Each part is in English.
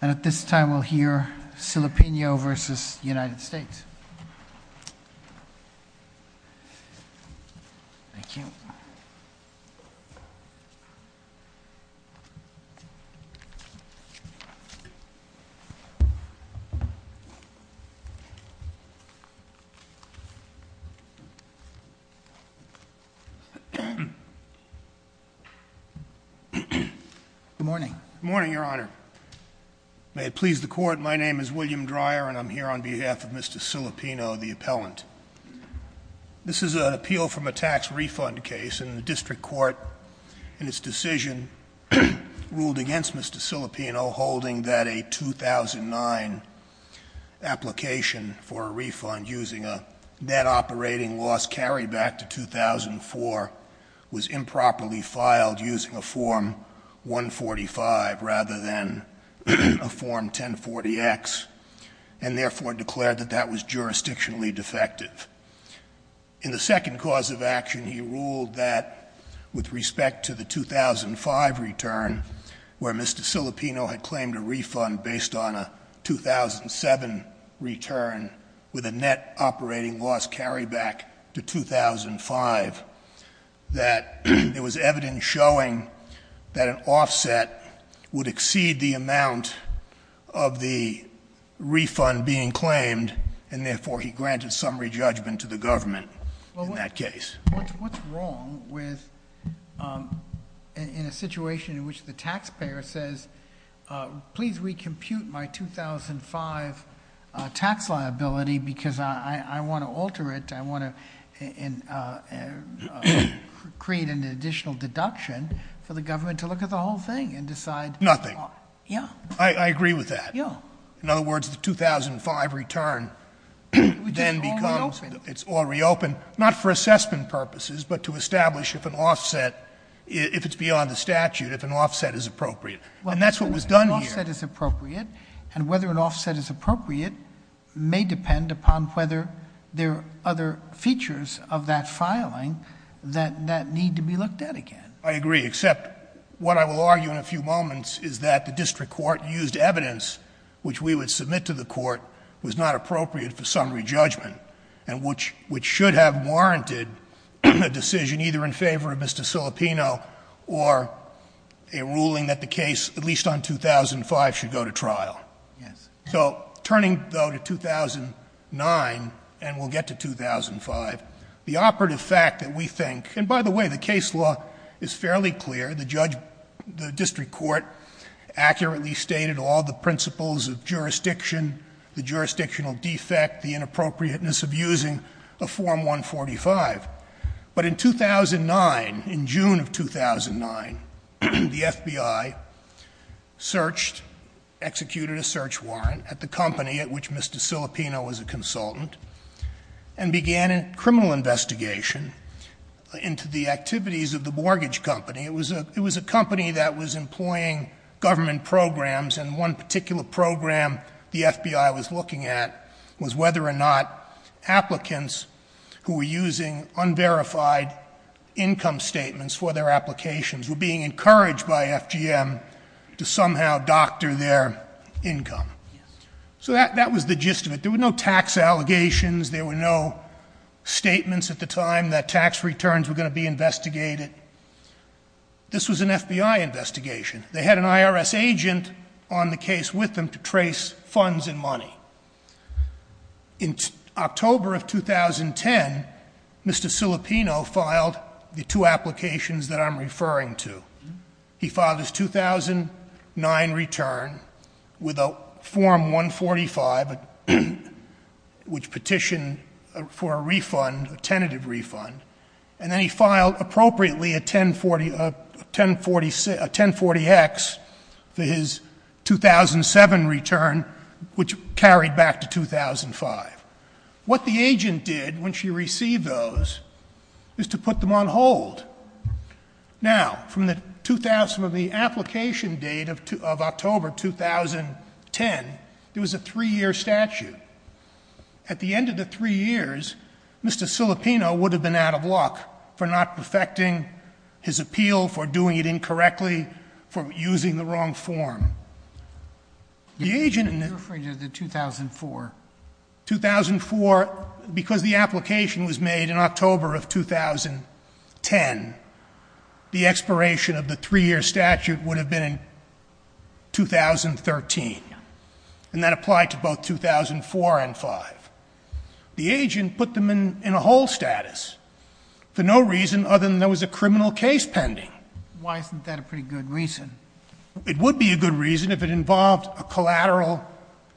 And at this time, we'll hear Silipigno v. United States. Thank you. Good morning. Good morning, Your Honor. May it please the court. My name is William Dreyer and I'm here on behalf of Mr. Silipino, the appellant. This is an appeal from a tax refund case and the district court in its decision ruled against Mr. Silipino holding that a 2009 application for a refund using a net operating loss carried back to 2004 was improperly filed using a form 145 rather than a form 1040X and therefore declared that that was jurisdictionally defective. In the second cause of action, he ruled that with respect to the 2005 return, where Mr. Silipino had claimed a refund based on a 2007 return with a net operating loss carry back to 2005, that there was evidence showing that an offset would exceed the amount of the refund being claimed and therefore he granted summary judgment to the government in that case. What's wrong with, in a situation in which the taxpayer says, please recompute my 2005 tax liability because I want to the government to look at the whole thing and decide. Nothing. Yeah. I agree with that. Yeah. In other words, the 2005 return then becomes, it's all reopened, not for assessment purposes, but to establish if an offset, if it's beyond the statute, if an offset is appropriate. And that's what was done here. Well, if an offset is appropriate and whether an offset is appropriate may depend upon whether there are other features of that filing that need to be looked at again. I agree. Except what I will argue in a few moments is that the district court used evidence, which we would submit to the court, was not appropriate for summary judgment and which should have warranted a decision either in favor of Mr. Silipino or a ruling that the case, at least on 2005, should go to trial. Yes. So turning though to 2009 and we'll get to 2005, the operative fact that we think, and by the way, the case law is fairly clear. The judge, the district court accurately stated all the principles of jurisdiction, the jurisdictional defect, the inappropriateness of using a form 145. But in 2009, in June of 2009, the FBI searched, executed a search warrant at the company at which Mr. Silipino was charged, a criminal investigation into the activities of the mortgage company. It was a company that was employing government programs and one particular program the FBI was looking at was whether or not applicants who were using unverified income statements for their applications were being encouraged by FGM to somehow doctor their income. So that was the gist of it. There were no tax allegations. There were no statements at the time that tax returns were going to be investigated. This was an FBI investigation. They had an IRS agent on the case with them to trace funds and money. In October of 2010, Mr. Silipino filed the two applications that I'm referring to. He filed his 2009 return with a form 145, which petitioned for a refund, a tentative refund. And then he filed appropriately a 1040X for his 2007 return, which carried back to 2005. What the agent did when she received those is to put them on hold. Now, from the 2000, from the application date of October 2010, it was a three year statute. At the end of the three years, Mr. Silipino would have been out of luck for not perfecting his appeal, for doing it incorrectly, for using the wrong form. The agent- You're referring to the 2004. 2004, because the application was made in October of 2010. The expiration of the three year statute would have been in 2013, and that applied to both 2004 and 5. The agent put them in a hold status for no reason other than there was a criminal case pending. Why isn't that a pretty good reason? It would be a good reason if it involved a collateral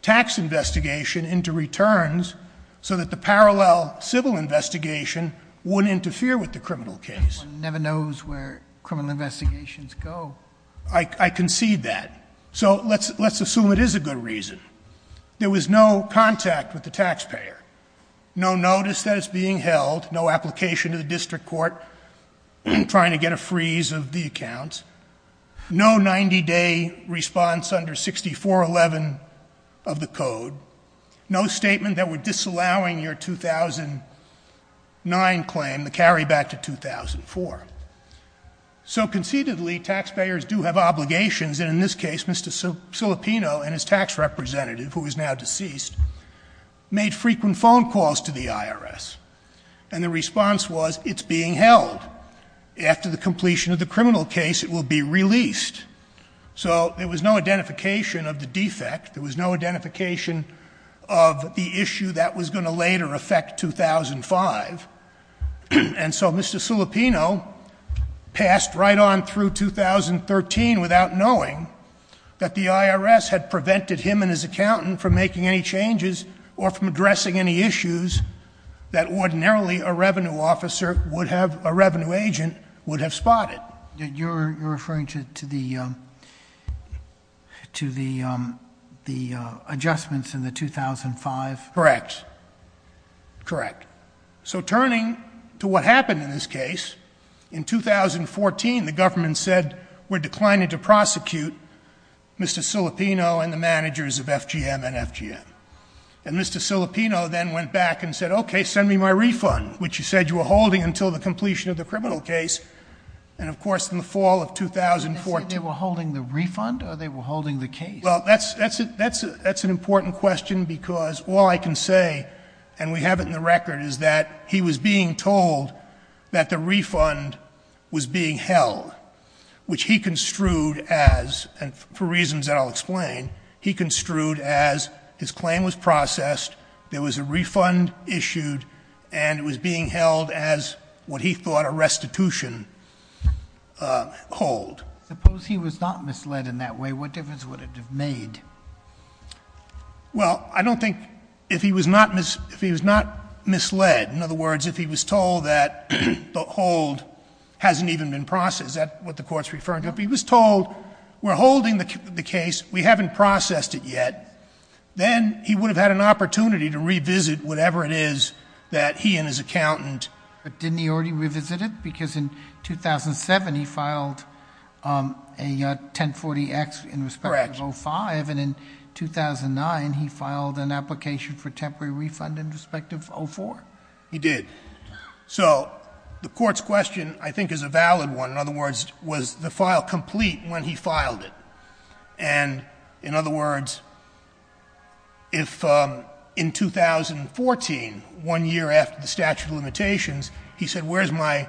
tax investigation into returns, so that the parallel civil investigation wouldn't interfere with the criminal case. Never knows where criminal investigations go. I concede that. So let's assume it is a good reason. There was no contact with the taxpayer. No notice that is being held, no application to the district court trying to get a freeze of the accounts. No 90 day response under 6411 of the code. No statement that we're disallowing your 2009 claim to carry back to 2004. So concededly, taxpayers do have obligations, and in this case, Mr. Silipino and his tax representative, who is now deceased, made frequent phone calls to the IRS. And the response was, it's being held. After the completion of the criminal case, it will be released. So there was no identification of the defect. There was no identification of the issue that was going to later affect 2005. And so Mr. Silipino passed right on through 2013 without knowing that the IRS had prevented him and his accountant from making any changes or from addressing any issues that ordinarily a revenue agent would have spotted. You're referring to the adjustments in the 2005? Correct, correct. So turning to what happened in this case, in 2014 the government said, we're declining to prosecute Mr. Silipino and the managers of FGM and FGM. And Mr. Silipino then went back and said, okay, send me my refund, which you said you were holding until the completion of the criminal case. And of course, in the fall of 2014- They said they were holding the refund or they were holding the case? Well, that's an important question because all I can say, and we have it in the record, is that he was being told that the refund was being held. Which he construed as, and for reasons that I'll explain, he construed as his claim was processed. There was a refund issued and it was being held as what he thought a restitution hold. Suppose he was not misled in that way, what difference would it have made? Well, I don't think if he was not misled, in other words, if he was told that the hold hasn't even been processed, that's what the court's referring to. If he was told, we're holding the case, we haven't processed it yet, then he would have had an opportunity to revisit whatever it is that he and his accountant- But didn't he already revisit it? Because in 2007, he filed a 1040X in respect of 05. And in 2009, he filed an application for temporary refund in respect of 04. He did. So the court's question, I think, is a valid one. In other words, was the file complete when he filed it? And in other words, if in 2014, one year after the statute of limitations, he said, where's my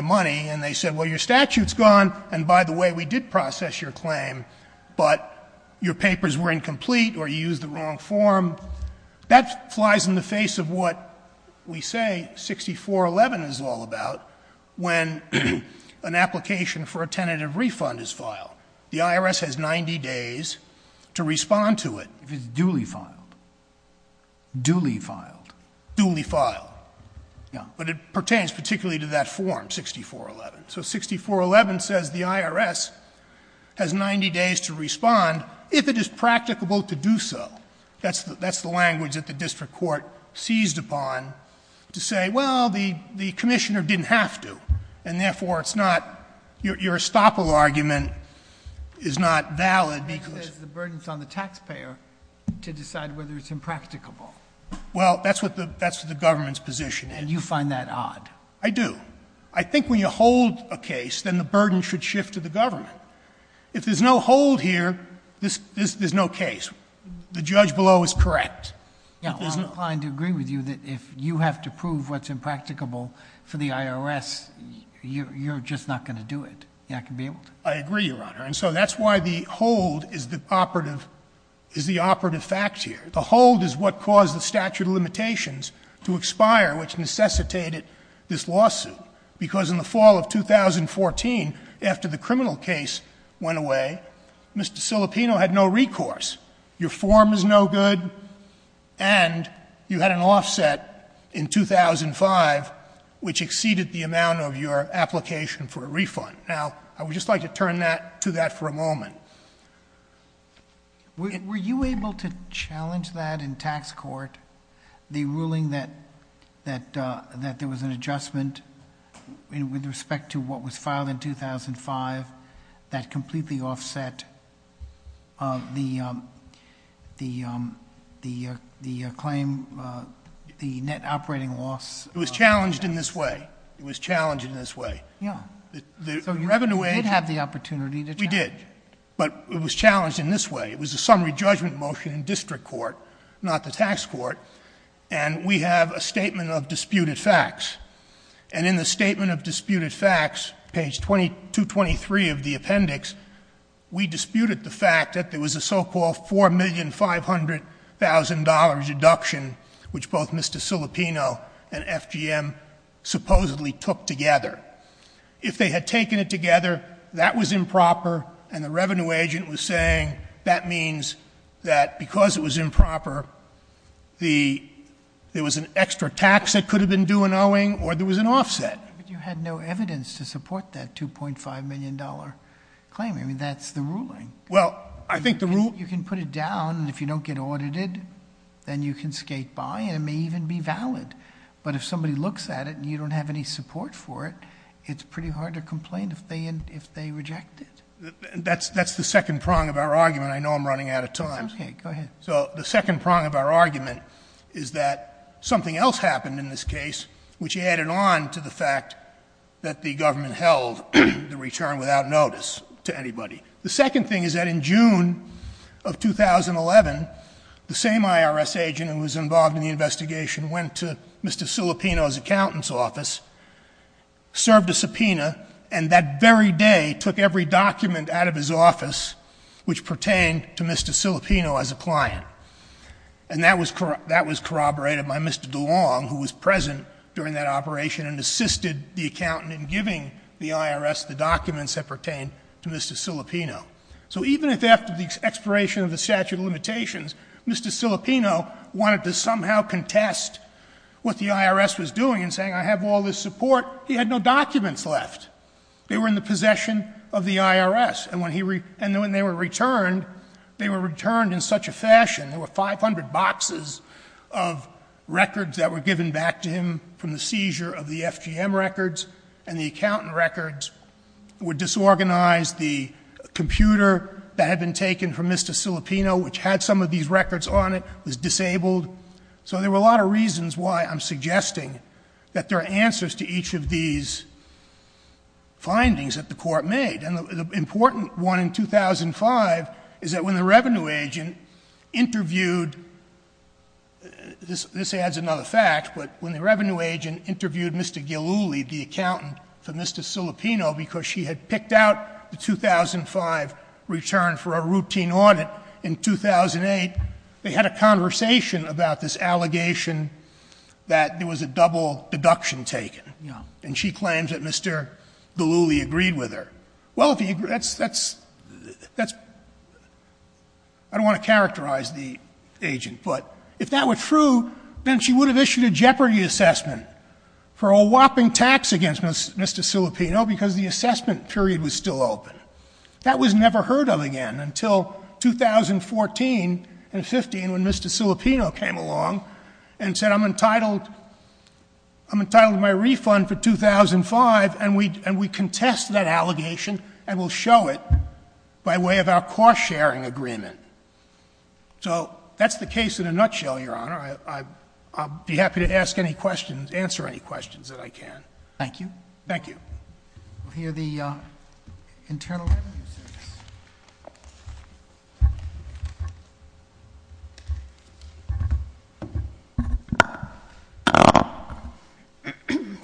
money? And they said, well, your statute's gone, and by the way, we did process your claim. But your papers were incomplete, or you used the wrong form. That flies in the face of what we say 6411 is all about, when an application for a tentative refund is filed. The IRS has 90 days to respond to it if it's duly filed. Duly filed. Duly filed. Yeah, but it pertains particularly to that form, 6411. So 6411 says the IRS has 90 days to respond if it is practicable to do so. That's the language that the district court seized upon to say, well, the commissioner didn't have to, and therefore it's not, your estoppel argument is not valid because- Because the burden's on the taxpayer to decide whether it's impracticable. Well, that's what the government's position is. And you find that odd. I do. I think when you hold a case, then the burden should shift to the government. If there's no hold here, there's no case. The judge below is correct. Yeah, I'm inclined to agree with you that if you have to prove what's impracticable for the IRS, you're just not going to do it. You're not going to be able to. I agree, Your Honor. And so that's why the hold is the operative fact here. The hold is what caused the statute of limitations to expire, which necessitated this lawsuit, because in the fall of 2014, after the criminal case went away, Mr. Cilipino had no recourse. Your form is no good, and you had an offset in 2005, which exceeded the amount of your application for a refund. Now, I would just like to turn that to that for a moment. Were you able to challenge that in tax court, the ruling that there was an adjustment with respect to what was filed in 2005, that completely offset the claim, the net operating loss? It was challenged in this way. It was challenged in this way. Yeah. So you did have the opportunity to challenge it. We did. But it was challenged in this way. It was a summary judgment motion in district court, not the tax court. And we have a statement of disputed facts. And in the statement of disputed facts, page 2223 of the appendix, we disputed the fact that there was a so-called $4,500,000 deduction, which both Mr. Cilipino and FGM supposedly took together. If they had taken it together, that was improper, and the revenue agent was saying that means that because it was improper, there was an extra tax that could have been due and there was an offset. But you had no evidence to support that $2.5 million claim. I mean, that's the ruling. Well, I think the rule- You can put it down, and if you don't get audited, then you can skate by, and it may even be valid. But if somebody looks at it, and you don't have any support for it, it's pretty hard to complain if they reject it. That's the second prong of our argument. I know I'm running out of time. It's okay, go ahead. So the second prong of our argument is that something else happened in this case, which added on to the fact that the government held the return without notice to anybody. The second thing is that in June of 2011, the same IRS agent who was involved in the investigation went to Mr. Cilipino's accountant's office, served a subpoena, and that very day took every document out of his office which pertained to Mr. Cilipino as a client. And that was corroborated by Mr. DeLong, who was present during that operation and assisted the accountant in giving the IRS the documents that pertain to Mr. Cilipino. So even if after the expiration of the statute of limitations, Mr. Cilipino wanted to somehow contest what the IRS was doing in saying I have all this support, he had no documents left. They were in the possession of the IRS, and when they were returned, they were returned in such a fashion. There were 500 boxes of records that were given back to him from the seizure of the FGM records. And the accountant records were disorganized. The computer that had been taken from Mr. Cilipino, which had some of these records on it, was disabled. So there were a lot of reasons why I'm suggesting that there are answers to each of these findings that the court made. And the important one in 2005 is that when the revenue agent interviewed, this adds another fact, but when the revenue agent interviewed Mr. Gillooly, the accountant for Mr. Cilipino because she had picked out the 2005 return for a routine audit in 2008. They had a conversation about this allegation that there was a double deduction taken. And she claims that Mr. Gillooly agreed with her. Well, that's, I don't want to characterize the agent, but if that were true, then she would have issued a jeopardy assessment for a whopping tax against Mr. Cilipino because the assessment period was still open. That was never heard of again until 2014 and 15 when Mr. Cilipino came along and said, I'm entitled to my refund for 2005. And we contest that allegation and we'll show it by way of our cost sharing agreement. So that's the case in a nutshell, Your Honor. I'll be happy to ask any questions, answer any questions that I can. Thank you. Thank you. We'll hear the Internal Revenue Service.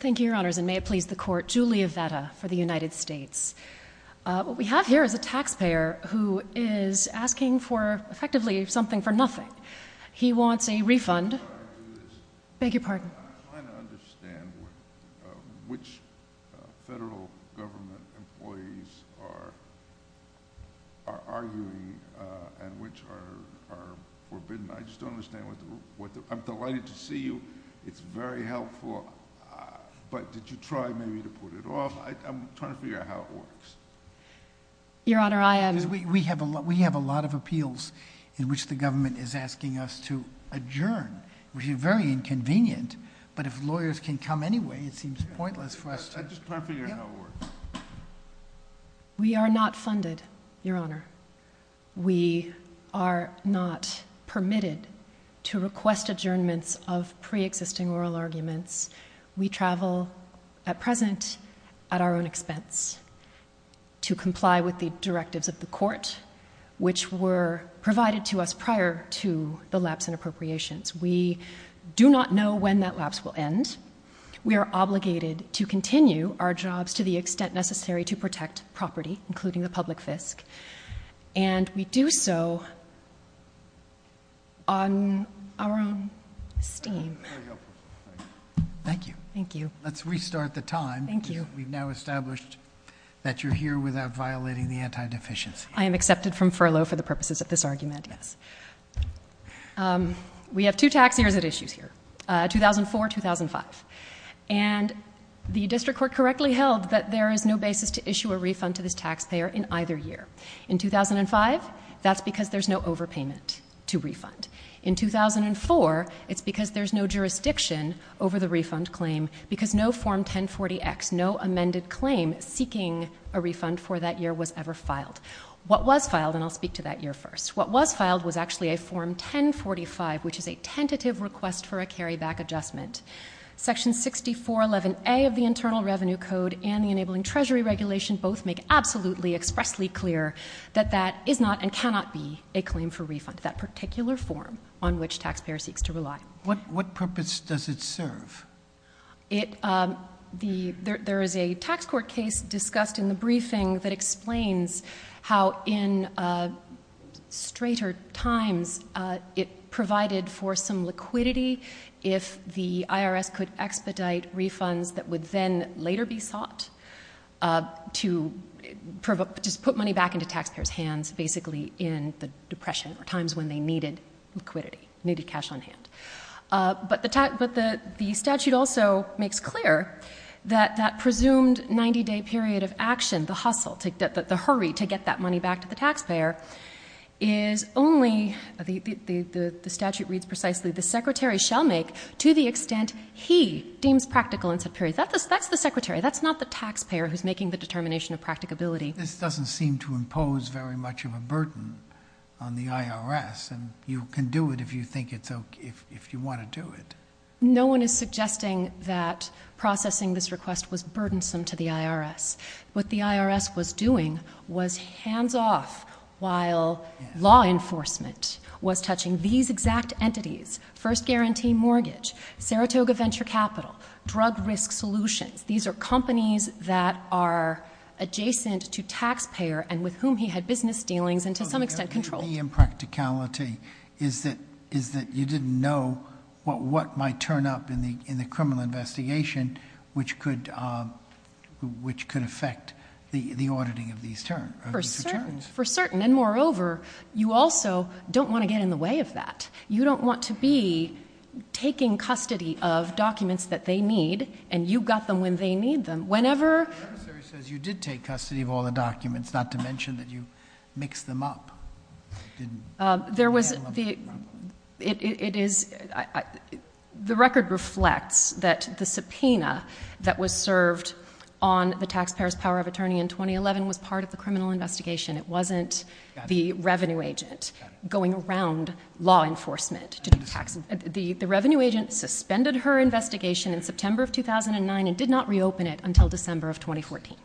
Thank you, Your Honors, and may it please the court, Julia Vetta for the United States. What we have here is a taxpayer who is asking for, effectively, something for nothing. He wants a refund. I'm sorry to do this. Beg your pardon. I'm trying to understand which federal government employees are arguing and which are forbidden. I just don't understand what the, I'm delighted to see you. It's very helpful, but did you try maybe to put it off? I'm trying to figure out how it works. Your Honor, I am. We have a lot of appeals in which the government is asking us to adjourn. Which is very inconvenient, but if lawyers can come anyway, it seems pointless for us to. I'm just trying to figure out how it works. We are not funded, Your Honor. We are not permitted to request adjournments of pre-existing oral arguments. We travel, at present, at our own expense to comply with the directives of the court, which were provided to us prior to the lapse in appropriations. We do not know when that lapse will end. We are obligated to continue our jobs to the extent necessary to protect property, including the public fisc. And we do so on our own esteem. Thank you. Thank you. Let's restart the time. Thank you. We've now established that you're here without violating the anti-deficiency. I am accepted from furlough for the purposes of this argument. Yes. We have two tax years at issues here, 2004, 2005. And the district court correctly held that there is no basis to issue a refund to this taxpayer in either year. In 2005, that's because there's no overpayment to refund. In 2004, it's because there's no jurisdiction over the refund claim, because no form 1040X, no amended claim seeking a refund for that year was ever filed. What was filed, and I'll speak to that year first. What was filed was actually a form 1045, which is a tentative request for a carryback adjustment. Section 6411A of the Internal Revenue Code and the Enabling Treasury Regulation both make absolutely expressly clear that that is not and cannot be a claim for refund, that particular form on which taxpayer seeks to rely. What purpose does it serve? There is a tax court case discussed in the briefing that explains how in straighter times it provided for some liquidity if the IRS could expedite refunds that would then later be sought. To just put money back into tax payers hands basically in the depression or times when they needed liquidity, needed cash on hand. But the statute also makes clear that that presumed 90 day period of action, the hustle, the hurry to get that money back to the taxpayer is only, the statute reads precisely, the secretary shall make to the extent he deems practical in said period. That's the secretary, that's not the taxpayer who's making the determination of practicability. This doesn't seem to impose very much of a burden on the IRS and you can do it if you think it's okay, if you want to do it. No one is suggesting that processing this request was burdensome to the IRS. What the IRS was doing was hands off while law enforcement was touching these exact entities, first guarantee mortgage, Saratoga Venture Capital, drug risk solutions. These are companies that are adjacent to taxpayer and with whom he had business dealings and to some extent controlled. The impracticality is that you didn't know what might turn up in the criminal investigation which could affect the auditing of these returns. For certain, and moreover, you also don't want to get in the way of that. You don't want to be taking custody of documents that they need and you got them when they need them. The referee says you did take custody of all the documents, not to mention that you mixed them up. You didn't handle a big problem. The record reflects that the subpoena that was served on the taxpayer's power of attorney in 2011 was part of the criminal investigation. It wasn't the revenue agent going around law enforcement. The revenue agent suspended her investigation in September of 2009 and did not reopen it until December of 2014.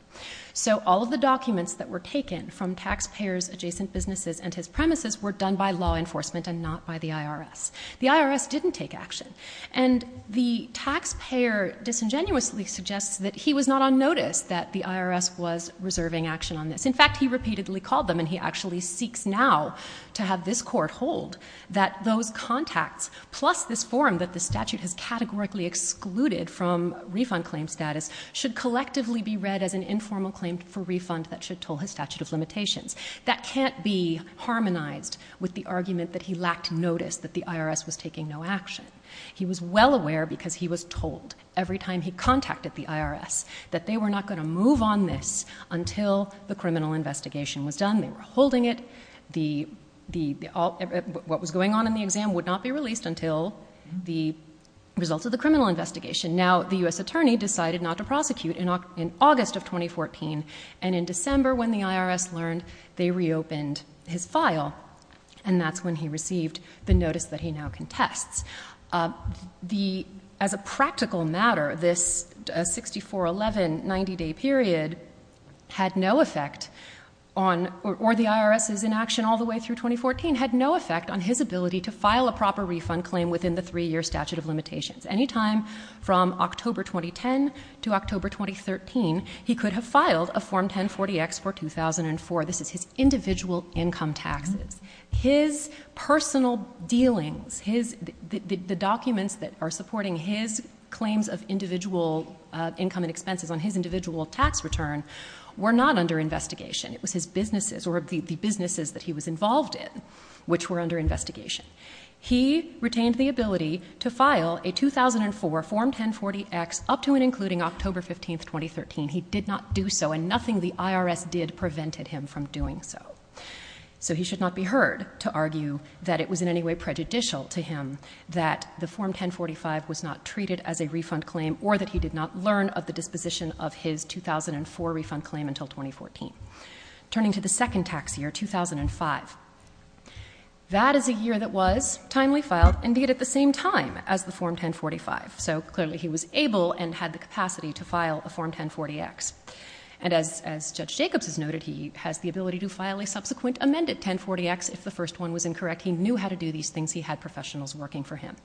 So all of the documents that were taken from taxpayers, adjacent businesses, and his premises were done by law enforcement and not by the IRS. The IRS didn't take action. And the taxpayer disingenuously suggests that he was not on notice that the IRS was reserving action on this. In fact, he repeatedly called them and he actually seeks now to have this court hold that those contacts, plus this form that the statute has categorically excluded from refund claim status, should collectively be read as an informal claim for refund that should toll his statute of limitations. That can't be harmonized with the argument that he lacked notice that the IRS was taking no action. He was well aware because he was told every time he contacted the IRS that they were not going to move on this until the criminal investigation was done, they were holding it. What was going on in the exam would not be released until the results of the criminal investigation. Now, the US attorney decided not to prosecute in August of 2014, and in December when the IRS learned, they reopened his file. And that's when he received the notice that he now contests. As a practical matter, this 6411 90 day period had no effect on, or the IRS is in action all the way through 2014, had no effect on his ability to file a proper refund claim within the three year statute of limitations. Anytime from October 2010 to October 2013, he could have filed a Form 1040X for 2004. This is his individual income taxes. His personal dealings, the documents that are supporting his claims of individual income and expenses on his individual tax return were not under investigation. It was his businesses, or the businesses that he was involved in, which were under investigation. He retained the ability to file a 2004 Form 1040X up to and including October 15th, 2013. He did not do so, and nothing the IRS did prevented him from doing so. So he should not be heard to argue that it was in any way prejudicial to him that the Form 1045 was not treated as a refund claim, or that he did not learn of the disposition of his 2004 refund claim until 2014. Turning to the second tax year, 2005, that is a year that was timely filed, and did it at the same time as the Form 1045. So clearly he was able and had the capacity to file a Form 1040X. And as Judge Jacobs has noted, he has the ability to file a subsequent amended 1040X if the first one was incorrect. He knew how to do these things. He had professionals working for him.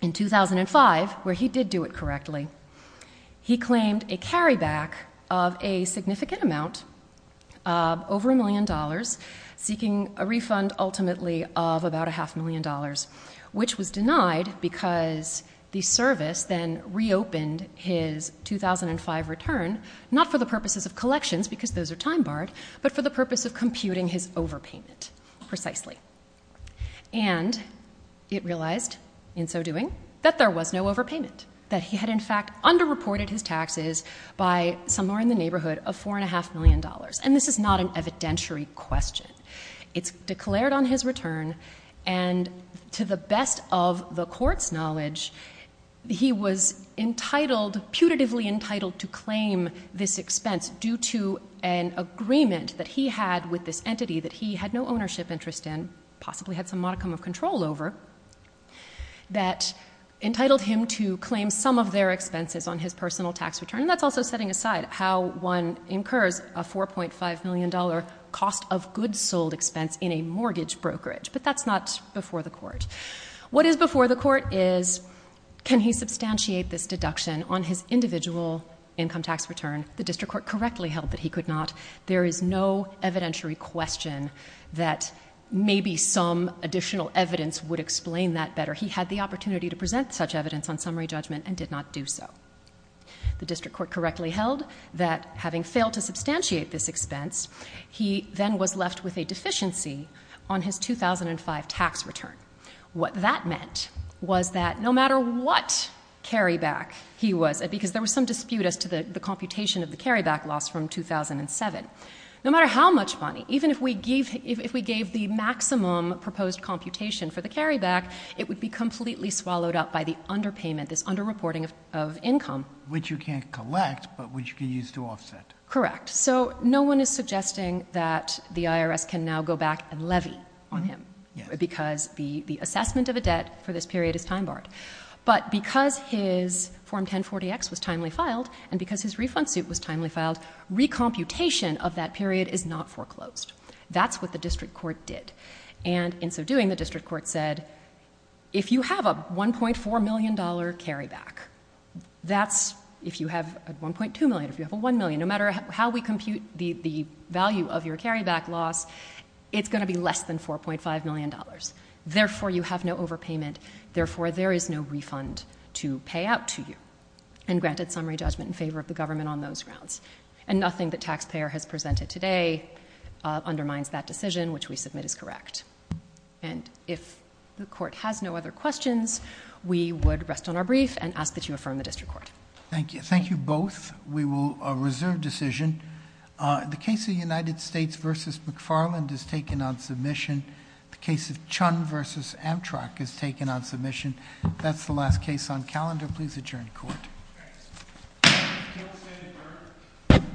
In 2005, where he did do it correctly, he claimed a carry back of a significant amount, over a million dollars, seeking a refund ultimately of about a half million dollars. Which was denied because the service then reopened his 2005 return, not for the purposes of collections, because those are time barred, but for the purpose of computing his overpayment, precisely. And it realized, in so doing, that there was no overpayment. That he had, in fact, under-reported his taxes by somewhere in the neighborhood of $4.5 million. And this is not an evidentiary question. It's declared on his return, and to the best of the court's knowledge, he was putatively entitled to claim this expense due to an agreement that he had with this entity, that he had no ownership interest in, possibly had some modicum of control over, that entitled him to claim some of their expenses on his personal tax return. And that's also setting aside how one incurs a $4.5 million cost of goods sold expense in a mortgage brokerage. But that's not before the court. What is before the court is, can he substantiate this deduction on his individual income tax return? The district court correctly held that he could not. There is no evidentiary question that maybe some additional evidence would explain that better. He had the opportunity to present such evidence on summary judgment and did not do so. The district court correctly held that having failed to substantiate this expense, he then was left with a deficiency on his 2005 tax return. What that meant was that no matter what carryback he was, because there was some dispute as to the computation of the carryback loss from 2007, no matter how much money, even if we gave the maximum proposed computation for the carryback, it would be completely swallowed up by the underpayment, this underreporting of income. Which you can't collect, but which you can use to offset. Correct. So no one is suggesting that the IRS can now go back and levy on him. Yes. Because the assessment of a debt for this period is time barred. But because his Form 1040X was timely filed, and because his refund suit was timely filed, recomputation of that period is not foreclosed. That's what the district court did. And in so doing, the district court said, if you have a $1.4 million carryback, that's, if you have a $1.2 million, if you have a $1 million, no matter how we compute the value of your carryback loss, it's going to be less than $4.5 million. Therefore, you have no overpayment. Therefore, there is no refund to pay out to you. And granted summary judgment in favor of the government on those grounds. And nothing the taxpayer has presented today undermines that decision, which we submit as correct. And if the court has no other questions, we would rest on our brief and ask that you affirm the district court. Thank you. Thank you both. We will reserve decision. The case of United States versus McFarland is taken on submission. The case of Chun versus Amtrak is taken on submission. That's the last case on calendar. Please adjourn court. Thank you. Members standing for?